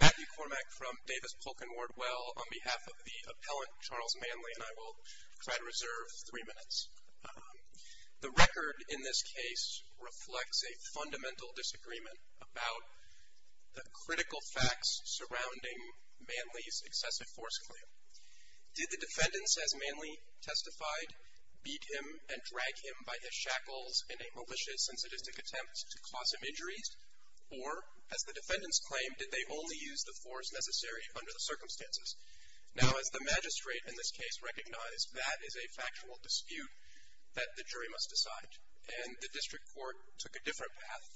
Matthew Cormack from Davis Polk & Wardwell on behalf of the appellant Charles Manley and I will try to reserve three minutes. The record in this case reflects a fundamental disagreement about the critical facts surrounding Manley's excessive force claim. Did the defendants as Manley testified beat him and drag him by his shackles in a malicious and sadistic attempt to cause him injuries? Or, as the defendants claimed, did they only use the force necessary under the circumstances? Now, as the magistrate in this case recognized, that is a factual dispute that the jury must decide. And the district court took a different path,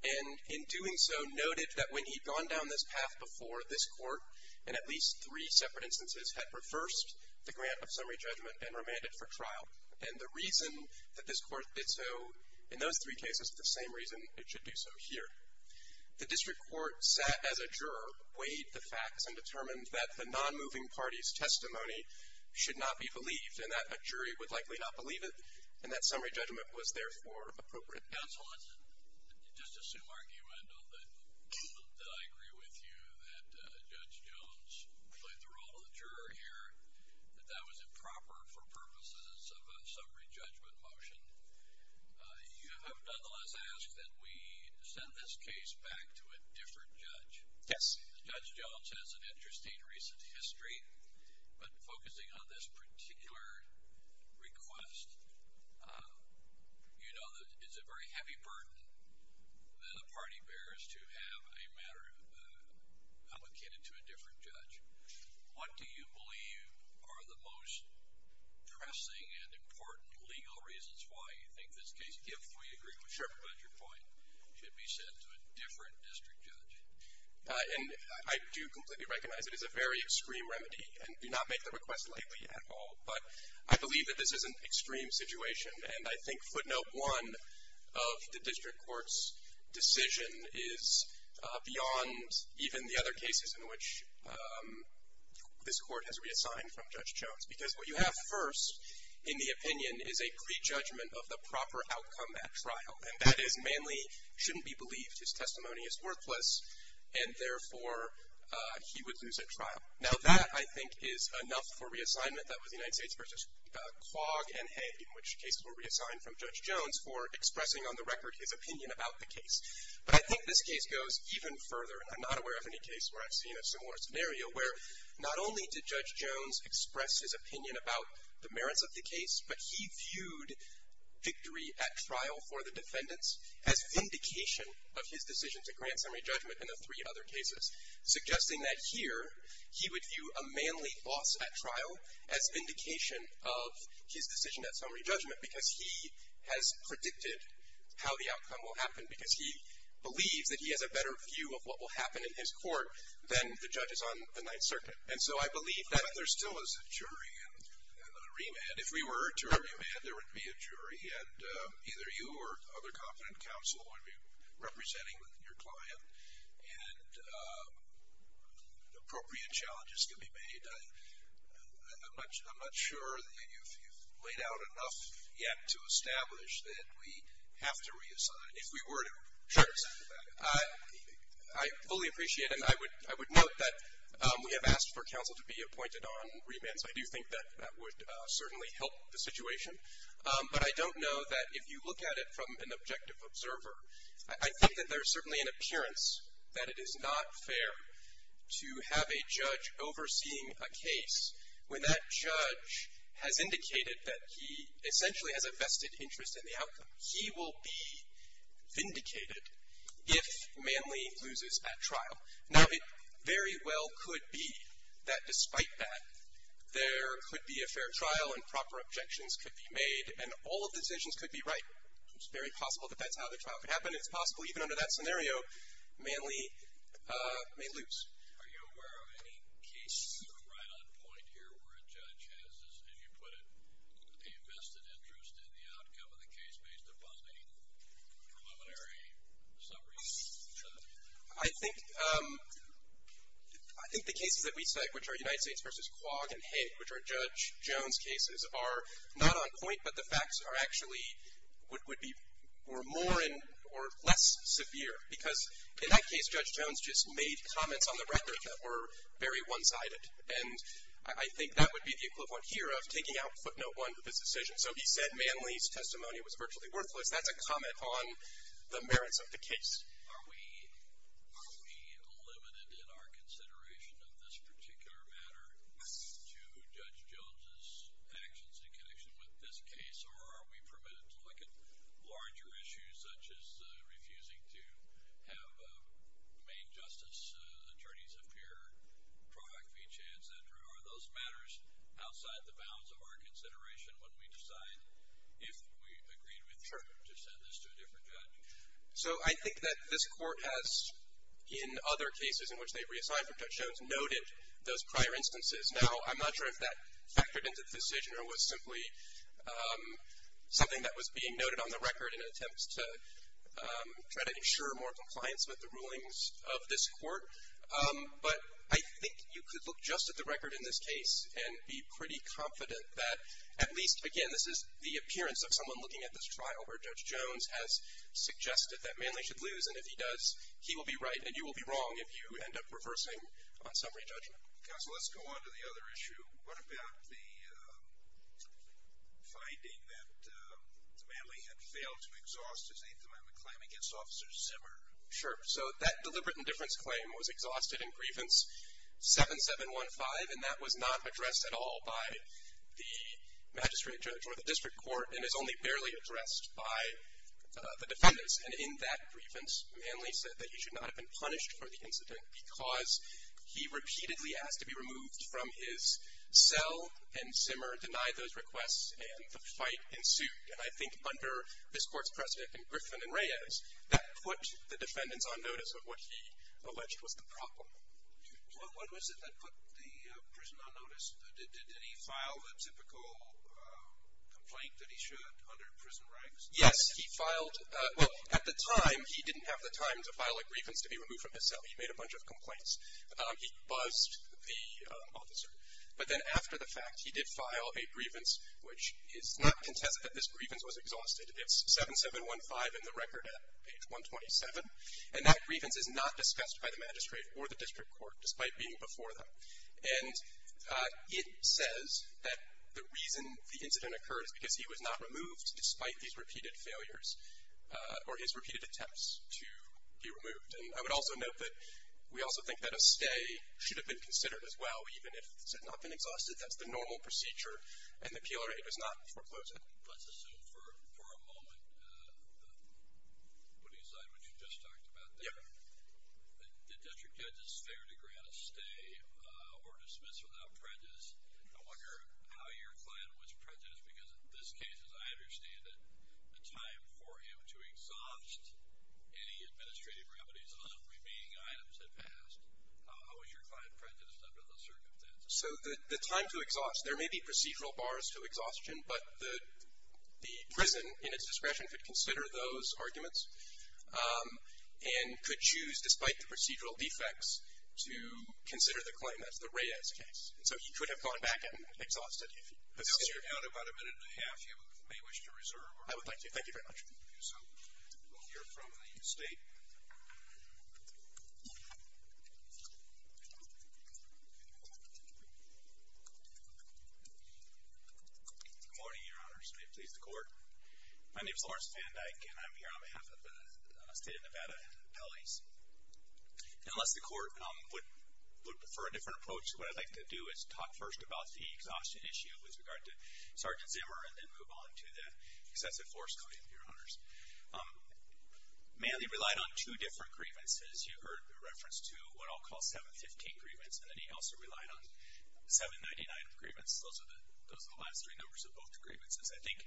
and in doing so noted that when he'd gone down this path before, this court, in at least three separate instances, had reversed the grant of summary judgment and remanded for trial. And the reason that this court did so in those three cases is the same reason it should do so here. The district court sat as a juror, weighed the facts, and determined that the non-moving party's testimony should not be believed, and that a jury would likely not believe it, and that summary judgment was therefore appropriate. Counsel, let's just assume, argumentally, that I agree with you that Judge Jones played the role of the juror here, that that was improper for purposes of a summary judgment motion. You have nonetheless asked that we send this case back to a different judge. Yes. Judge Jones has an interesting recent history, but focusing on this particular request, you know that it's a very heavy burden that a party bears to have a matter allocated to a different judge. What do you believe are the most pressing and important legal reasons why you think this case, if we agree with Sherpa, but at your point, should be sent to a different district judge? And I do completely recognize it is a very extreme remedy, and do not make the request lightly at all, but I believe that this is an extreme situation, and I think footnote one of the district court's decision is beyond even the other cases in which this court has reassigned from Judge Jones, because what you have first in the opinion is a prejudgment of the proper outcome at trial, and that is Manley shouldn't be believed. His testimony is worthless, and therefore he would lose at trial. Now that, I think, is enough for reassignment. That was United States v. Quagg and Head, in which cases were reassigned from Judge Jones, for expressing on the record his opinion about the case. But I think this case goes even further, and I'm not aware of any case where I've seen a similar scenario, where not only did Judge Jones express his opinion about the merits of the case, but he viewed victory at trial for the defendants as vindication of his decision to grant summary judgment in the three other cases, suggesting that here he would view a Manley loss at trial as vindication of his decision at summary judgment, because he has predicted how the outcome will happen, because he believes that he has a better view of what will happen in his court than the judges on the Ninth Circuit. And so I believe that. But there still is a jury and a remand. If we were to remand, there would be a jury, and either you or other competent counsel would be representing your client, and appropriate challenges can be made. I'm not sure that you've laid out enough yet to establish that we have to reassign. If we were to reassign, I fully appreciate it. And I would note that we have asked for counsel to be appointed on remands. I do think that that would certainly help the situation. But I don't know that if you look at it from an objective observer, I think that there is certainly an appearance that it is not fair to have a judge overseeing a case when that judge has indicated that he essentially has a vested interest in the outcome. He will be vindicated if Manley loses at trial. Now, it very well could be that despite that, there could be a fair trial, and proper objections could be made, and all of the decisions could be right. It's very possible that that's how the trial could happen. It's possible, even under that scenario, Manley may lose. Are you aware of any case right on point here where a judge has, as you put it, a vested interest in the outcome of the case based upon any preliminary summary? I think the cases that we cite, which are United States v. Quagg and Hank, which are Judge Jones' cases, are not on point, but the facts are actually more or less severe. Because in that case, Judge Jones just made comments on the record that were very one-sided. And I think that would be the equivalent here of taking out footnote one of his decision. So he said Manley's testimony was virtually worthless. That's a comment on the merits of the case. Are we limited in our consideration of this particular matter to Judge Jones' actions in connection with this case, or are we permitted to look at larger issues, such as refusing to have main justice attorneys appear, product fee chance, et cetera? Are those matters outside the bounds of our consideration when we decide, if we've agreed with you, to send this to a different judge? So I think that this Court has, in other cases in which they've reassigned from Judge Jones, noted those prior instances. Now, I'm not sure if that factored into the decision or was simply something that was being noted on the record in an attempt to try to ensure more compliance with the rulings of this Court. But I think you could look just at the record in this case and be pretty confident that at least, again, this is the appearance of someone looking at this trial where Judge Jones has suggested that Manley should lose, and if he does, he will be right and you will be wrong if you end up reversing on summary judgment. Counsel, let's go on to the other issue. What about the finding that Manley had failed to exhaust his Eighth Amendment claim against Officer Zimmer? Sure. So that deliberate indifference claim was exhausted in Grievance 7715, and that was not addressed at all by the magistrate judge or the district court and is only barely addressed by the defendants. And in that grievance, Manley said that he should not have been punished for the incident because he repeatedly asked to be removed from his cell, and Zimmer denied those requests, and the fight ensued. And I think under this Court's precedent in Griffin and Reyes, that put the defendants on notice of what he alleged was the problem. What was it that put the prison on notice? Did he file the typical complaint that he should under prison rights? Yes, he filed – well, at the time, he didn't have the time to file a grievance to be removed from his cell. He made a bunch of complaints. He buzzed the officer, but then after the fact, he did file a grievance, which is not contested that this grievance was exhausted. It's 7715 in the record at page 127, and that grievance is not discussed by the magistrate or the district court, despite being before them. And it says that the reason the incident occurred is because he was not removed despite these repeated failures or his repeated attempts to be removed. And I would also note that we also think that a stay should have been considered as well, even if it had not been exhausted. That's the normal procedure, and the PLRA does not foreclose it. Let's assume for a moment, putting aside what you just talked about there, that the district judge is there to grant a stay or dismiss without prejudice. I wonder how your client was prejudiced, because in this case, as I understand it, the time for him to exhaust any administrative remedies on remaining items had passed. How was your client prejudiced under those circumstances? So the time to exhaust, there may be procedural bars to exhaustion, but the prison, in its discretion, could consider those arguments and could choose, despite the procedural defects, to consider the claim. That's the Reyes case. And so he could have gone back and exhausted. If you could sit here. I'll give you about a minute and a half. You may wish to reserve. I would like to. Thank you very much. We'll hear from the State. Good morning, Your Honors. May it please the Court. My name is Lawrence Van Dyke, and I'm here on behalf of the State of Nevada Appellees. Unless the Court would prefer a different approach, what I'd like to do is talk first about the exhaustion issue with regard to Sergeant Zimmer and then move on to the excessive force claim, Your Honors. Manley relied on two different grievances. You heard the reference to what I'll call 715 grievance, and then he also relied on 799 grievance. Those are the last three numbers of both grievances. I think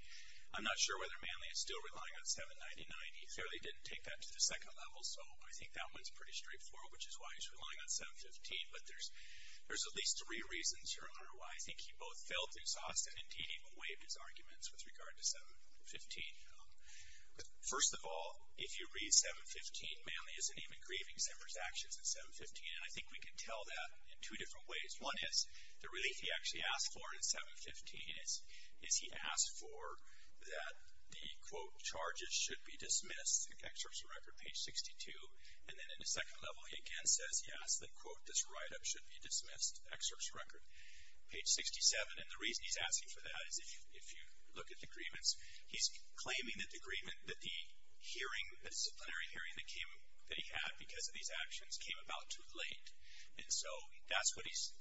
I'm not sure whether Manley is still relying on 799. He clearly didn't take that to the second level, so I think that one's pretty straightforward, which is why he's relying on 715. But there's at least three reasons, Your Honor, why I think he both felt exhausted and, indeed, even waived his arguments with regard to 715. First of all, if you read 715, Manley isn't even grieving Zimmer's actions in 715, and I think we can tell that in two different ways. One is the relief he actually asked for in 715 is he asked for that the, quote, charges should be dismissed, excerpt from record page 62, and then in the second level he again says, yes, the, quote, this write-up should be dismissed, excerpt from record page 67, and the reason he's asking for that is if you look at the grievance, he's claiming that the hearing, the disciplinary hearing that he had because of these actions, came about too late, and so that's what he's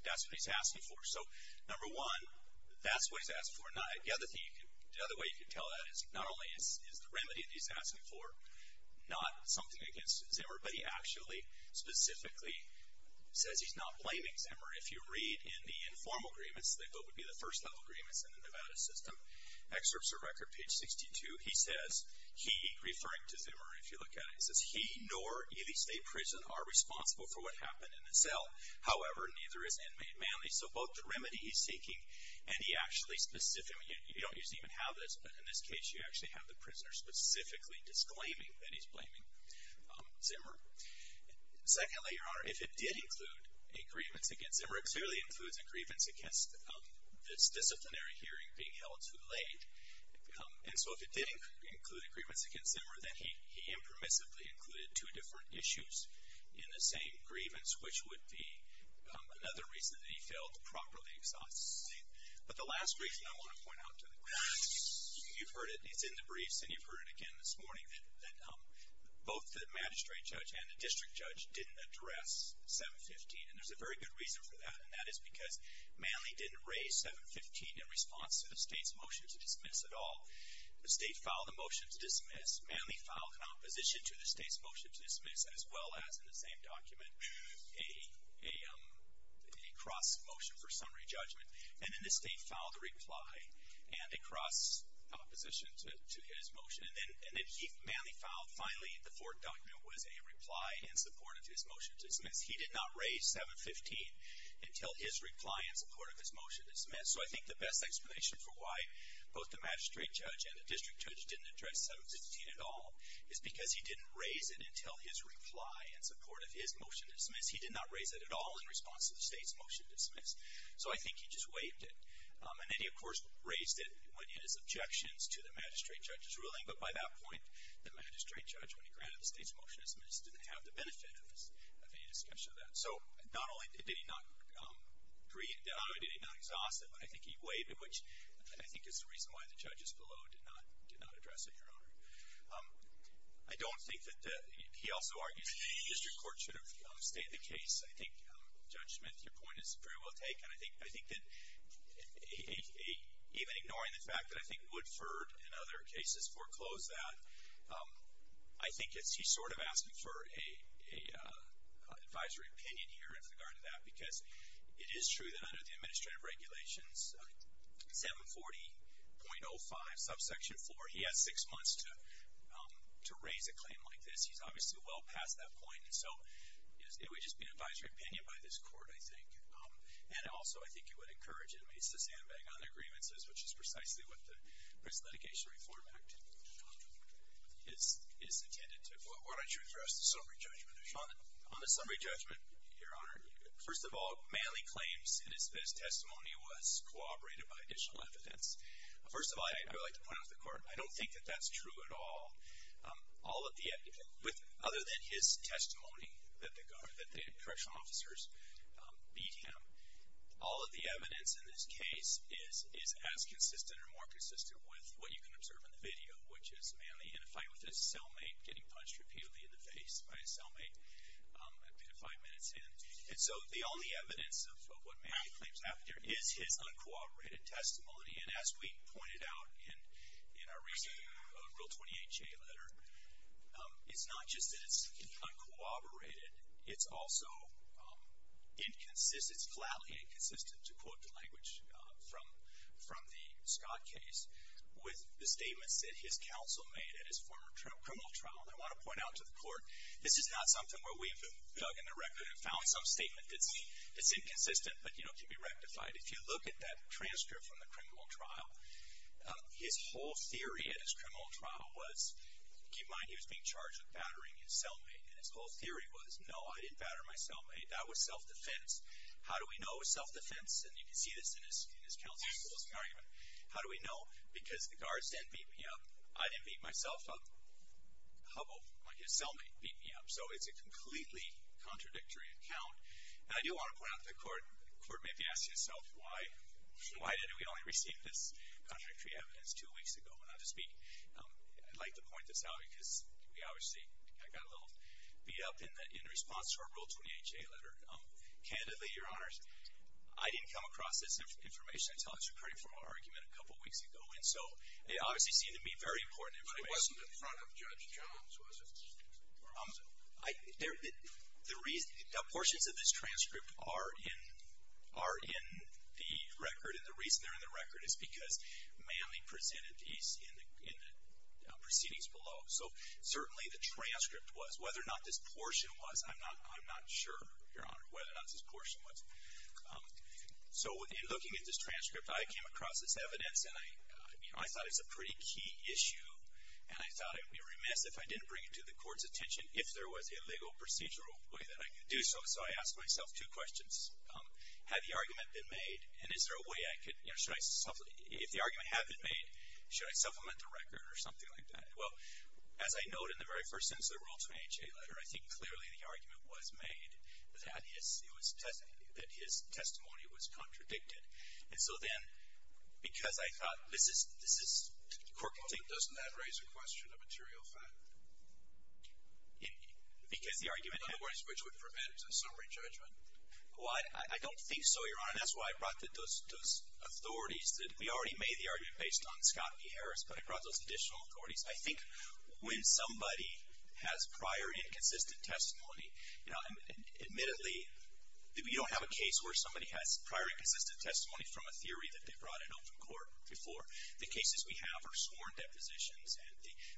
asking for. So, number one, that's what he's asking for. The other way you can tell that is not only is the remedy that he's asking for not something against Zimmer, but he actually specifically says he's not blaming Zimmer. If you read in the informal grievance, that would be the first level grievance in the Nevada system, excerpts of record page 62, he says, he, referring to Zimmer, if you look at it, he says, he nor either state prison are responsible for what happened in the cell. However, neither is inmate Manley. So, both the remedy he's seeking and he actually specifically, you don't usually even have this, but in this case, you actually have the prisoner specifically disclaiming that he's blaming Zimmer. Secondly, Your Honor, if it did include a grievance against Zimmer, it clearly includes a grievance against this disciplinary hearing being held too late, and so if it did include a grievance against Zimmer, then he impermissibly included two different issues in the same grievance, which would be another reason that he failed to properly exhaust the state. But the last reason I want to point out to the court, you've heard it, it's in the briefs and you've heard it again this morning, that both the magistrate judge and the district judge didn't address 715, and there's a very good reason for that, and that is because Manley didn't raise 715 in response to the state's motion to dismiss at all. The state filed a motion to dismiss. Manley filed an opposition to the state's motion to dismiss, as well as in the same document, a cross motion for summary judgment. And then the state filed a reply and a cross opposition to his motion. And then Manley filed, finally, the fourth document was a reply in support of his motion to dismiss. He did not raise 715 until his reply in support of his motion to dismiss. So I think the best explanation for why both the magistrate judge and the district judge didn't address 715 at all is because he didn't raise it until his reply in support of his motion to dismiss. He did not raise it at all in response to the state's motion to dismiss. So I think he just waived it. And then he, of course, raised it when in his objections to the magistrate judge's ruling. But by that point, the magistrate judge, when he granted the state's motion to dismiss, didn't have the benefit of any discussion of that. So not only did he not agree, not only did he not exhaust it, but I think he waived it, which I think is the reason why the judges below did not address it, Your Honor. I don't think that he also argues that the district court should have stayed the case. I think, Judge Smith, your point is very well taken. I think that even ignoring the fact that I think Woodford and other cases foreclosed that, I think he's sort of asking for an advisory opinion here in regard to that because it is true that under the administrative regulations, 740.05, subsection 4, he has six months to raise a claim like this. He's obviously well past that point. And so it would just be an advisory opinion by this court, I think. And also, I think he would encourage inmates to sandbag on their grievances, which is precisely what the Prison Litigation Reform Act is intended to. Why don't you address the summary judgment issue? On the summary judgment, Your Honor, first of all, Manley claims that his testimony was corroborated by additional evidence. First of all, I'd really like to point out to the court, I don't think that that's true at all. All of the evidence, other than his testimony that the correctional officers beat him, all of the evidence in this case is as consistent or more consistent with what you can observe in the video, which is Manley in a fight with his cellmate, getting punched repeatedly in the face by his cellmate a bit of five minutes in. And so the only evidence of what Manley claims happened here is his uncooperated testimony. And as we pointed out in our recent Rule 28JA letter, it's not just that it's uncooperated. It's also flatly inconsistent, to quote the language from the Scott case, with the statements that his counsel made at his former criminal trial. And I want to point out to the court, this is not something where we have dug in the record and found some statement that's inconsistent, but, you know, can be rectified. If you look at that transcript from the criminal trial, his whole theory at his criminal trial was, keep in mind he was being charged with battering his cellmate, and his whole theory was, no, I didn't batter my cellmate. That was self-defense. How do we know it was self-defense? And you can see this in his counsel's closing argument. How do we know? Because the guards didn't beat me up. I didn't beat myself up. Hubbell, like his cellmate, beat me up. So it's a completely contradictory account. And I do want to point out to the court, the court may be asking itself, why did we only receive this contradictory evidence two weeks ago when I was speaking? I'd like to point this out because we obviously got a little beat up in response to our Rule 28-J letter. Candidly, Your Honors, I didn't come across this information until the Supreme Court argument a couple weeks ago, and so it obviously seemed to be very important information. But it wasn't in front of Judge Jones, was it? The portions of this transcript are in the record, and the reason they're in the record is because Manley presented these in the proceedings below. So certainly the transcript was. Whether or not this portion was, I'm not sure, Your Honor, whether or not this portion was. So in looking at this transcript, I came across this evidence, and I thought it was a pretty key issue, and I thought I would be remiss if I didn't bring it to the court's attention if there was a legal procedural way that I could do so. So I asked myself two questions. Had the argument been made, and is there a way I could, you know, should I, if the argument had been made, should I supplement the record or something like that? Well, as I note in the very first instance of the Rule 28-J letter, I think clearly the argument was made that his testimony was contradicted. And so then, because I thought this is, this is, the court can take it. Doesn't that raise a question of material fact? Because the argument had. In other words, which would prevent a summary judgment. Well, I don't think so, Your Honor. That's why I brought those authorities. We already made the argument based on Scott v. Harris, but I brought those additional authorities. I think when somebody has prior inconsistent testimony, you know, that's testimony from a theory that they brought in open court before. The cases we have are sworn depositions.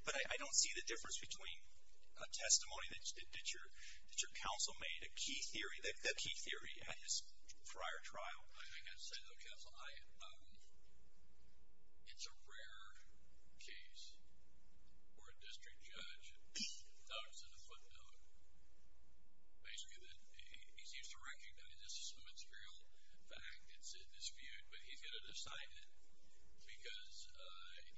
But I don't see the difference between a testimony that your counsel made, a key theory, the key theory at his prior trial. I think I'd say to the counsel, it's a rare case where a district judge notes in a footnote basically that he seems to recognize this is some material fact that's in dispute, but he's going to decide it because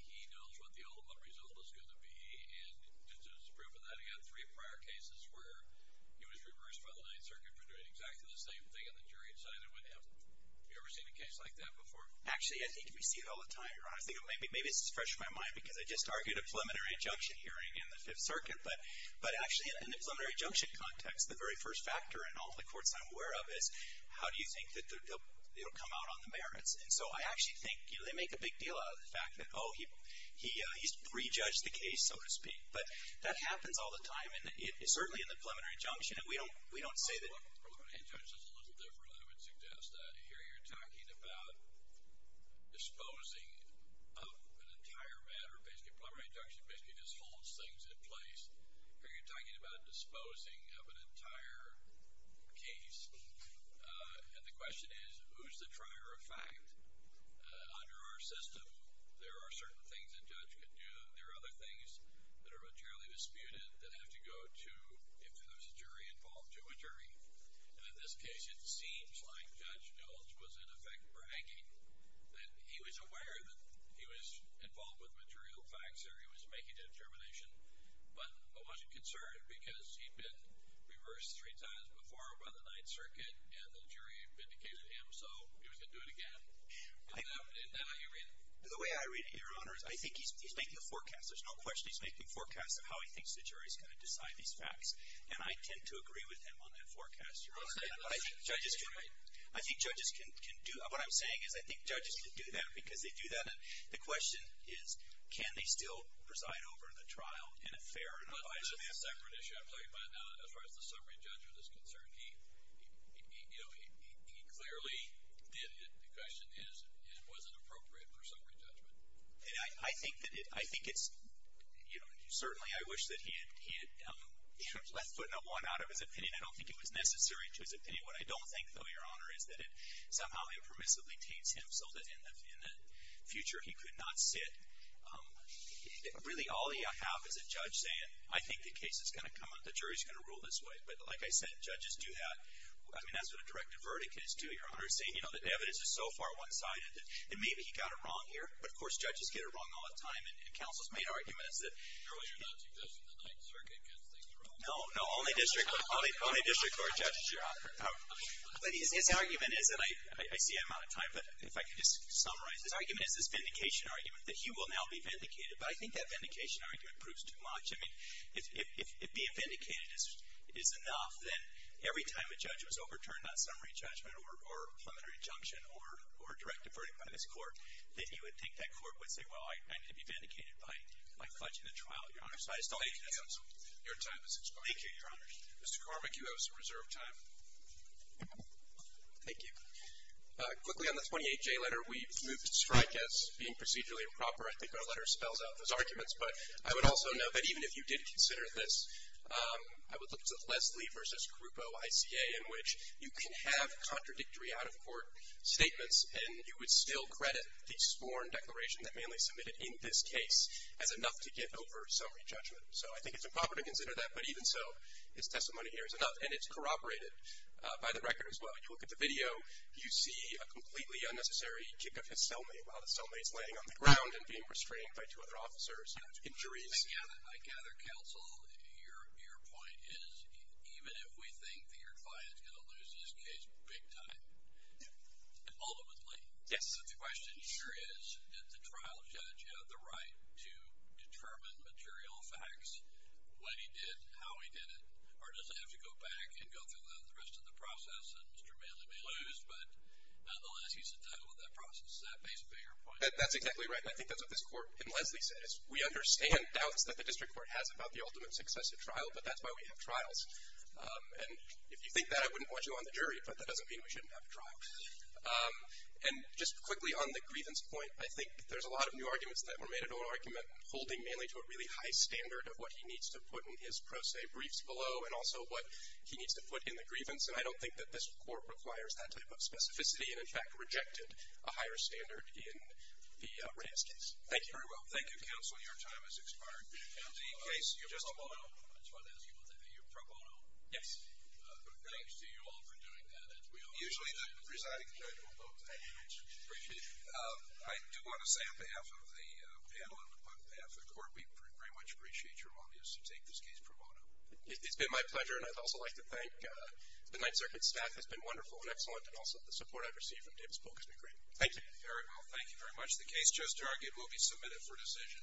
he knows what the ultimate result is going to be. And just as proof of that, he had three prior cases where he was reversed by the Ninth Circuit for doing exactly the same thing, and the jury decided with him. Have you ever seen a case like that before? Actually, I think we see it all the time, Your Honor. Maybe this is fresh in my mind because I just argued a preliminary injunction hearing in the Fifth Circuit. But actually, in the preliminary injunction context, the very first factor in all the courts I'm aware of is, how do you think that it will come out on the merits? And so I actually think, you know, they make a big deal out of the fact that, oh, he prejudged the case, so to speak. But that happens all the time, and certainly in the preliminary injunction, we don't say that. A preliminary injunction is a little different, I would suggest. Here you're talking about disposing of an entire matter. A preliminary injunction basically just holds things in place. Here you're talking about disposing of an entire case. And the question is, who's the trier of fact? Under our system, there are certain things a judge could do. There are other things that are materially disputed that have to go to, if there's a jury involved, to a jury. And in this case, it seems like Judge Jones was, in effect, bragging that he was aware that he was involved with material facts or he was making a determination, but wasn't concerned because he'd been reversed three times before by the Ninth Circuit, and the jury vindicated him, so he was going to do it again. And now you read it. The way I read it, Your Honor, is I think he's making a forecast. There's no question he's making a forecast of how he thinks the jury is going to decide these facts. And I tend to agree with him on that forecast, Your Honor. I think judges can do – what I'm saying is I think judges can do that because they do that. The question is, can they still preside over the trial in a fair and unbiased manner? But that's a separate issue I'm talking about now. As far as the summary judgment is concerned, he clearly did it. The question is, was it appropriate for summary judgment? I think it's – certainly I wish that he had left foot in a lawn out of his opinion. I don't think it was necessary to his opinion. What I don't think, though, Your Honor, is that it somehow impermissibly taints him so that in the future he could not sit. Really, all you have is a judge saying, I think the case is going to come up, the jury is going to rule this way. But like I said, judges do that. I mean, that's what a directive verdict is too, Your Honor, saying, you know, the evidence is so far one-sided that maybe he got it wrong here. But, of course, judges get it wrong all the time. And counsel's main argument is that – No, no. Only district court judges, Your Honor. But his argument is, and I see I'm out of time, but if I could just summarize. His argument is this vindication argument, that he will now be vindicated. But I think that vindication argument proves too much. I mean, if being vindicated is enough, then every time a judge was overturned on summary judgment or preliminary injunction or directive verdict by this court, that he would think that court would say, well, I need to be vindicated by fudging the trial, Your Honor. Thank you, counsel. Your time has expired. Thank you, Your Honor. Mr. Carmich, you have some reserve time. Thank you. Quickly on the 28J letter, we moved to strike as being procedurally improper. I think our letter spells out those arguments. But I would also note that even if you did consider this, I would look to Leslie v. Grupo, ICA, in which you can have contradictory out-of-court statements and you would still credit the sworn declaration that Manley submitted in this case as enough to get over summary judgment. So I think it's improper to consider that. But even so, his testimony here is enough. And it's corroborated by the record as well. You look at the video, you see a completely unnecessary kick of his cellmate while the cellmate is laying on the ground and being restrained by two other officers. Injuries. I gather, counsel, your point is even if we think that your client is going to lose his case big time, ultimately. Yes. The question here is, did the trial judge have the right to determine material facts, what he did, how he did it, or does it have to go back and go through the rest of the process and Mr. Manley may lose. But nonetheless, he's entitled to that process. That makes a bigger point. That's exactly right. And I think that's what this court in Leslie says. We understand doubts that the district court has about the ultimate success of trial, but that's why we have trials. And if you think that, I wouldn't want you on the jury. But that doesn't mean we shouldn't have trials. And just quickly on the grievance point, I think there's a lot of new arguments that were made in oral argument holding Manley to a really high standard of what he needs to put in his pro se briefs below and also what he needs to put in the grievance. And I don't think that this court requires that type of specificity and, in fact, rejected a higher standard in the Reyes case. Thank you. Thank you, counsel. Your time has expired. I just want to ask you about the pro bono. Yes. Thanks to you all for doing that. Usually the presiding judge will vote. Thank you very much. Appreciate it. I do want to say on behalf of the panel and on behalf of the court, we very much appreciate your willingness to take this case pro bono. It's been my pleasure, and I'd also like to thank the Ninth Circuit staff. It's been wonderful and excellent, and also the support I've received from Dave's book has been great. Thank you. Very well. Thank you very much. The case just argued will be submitted for decision.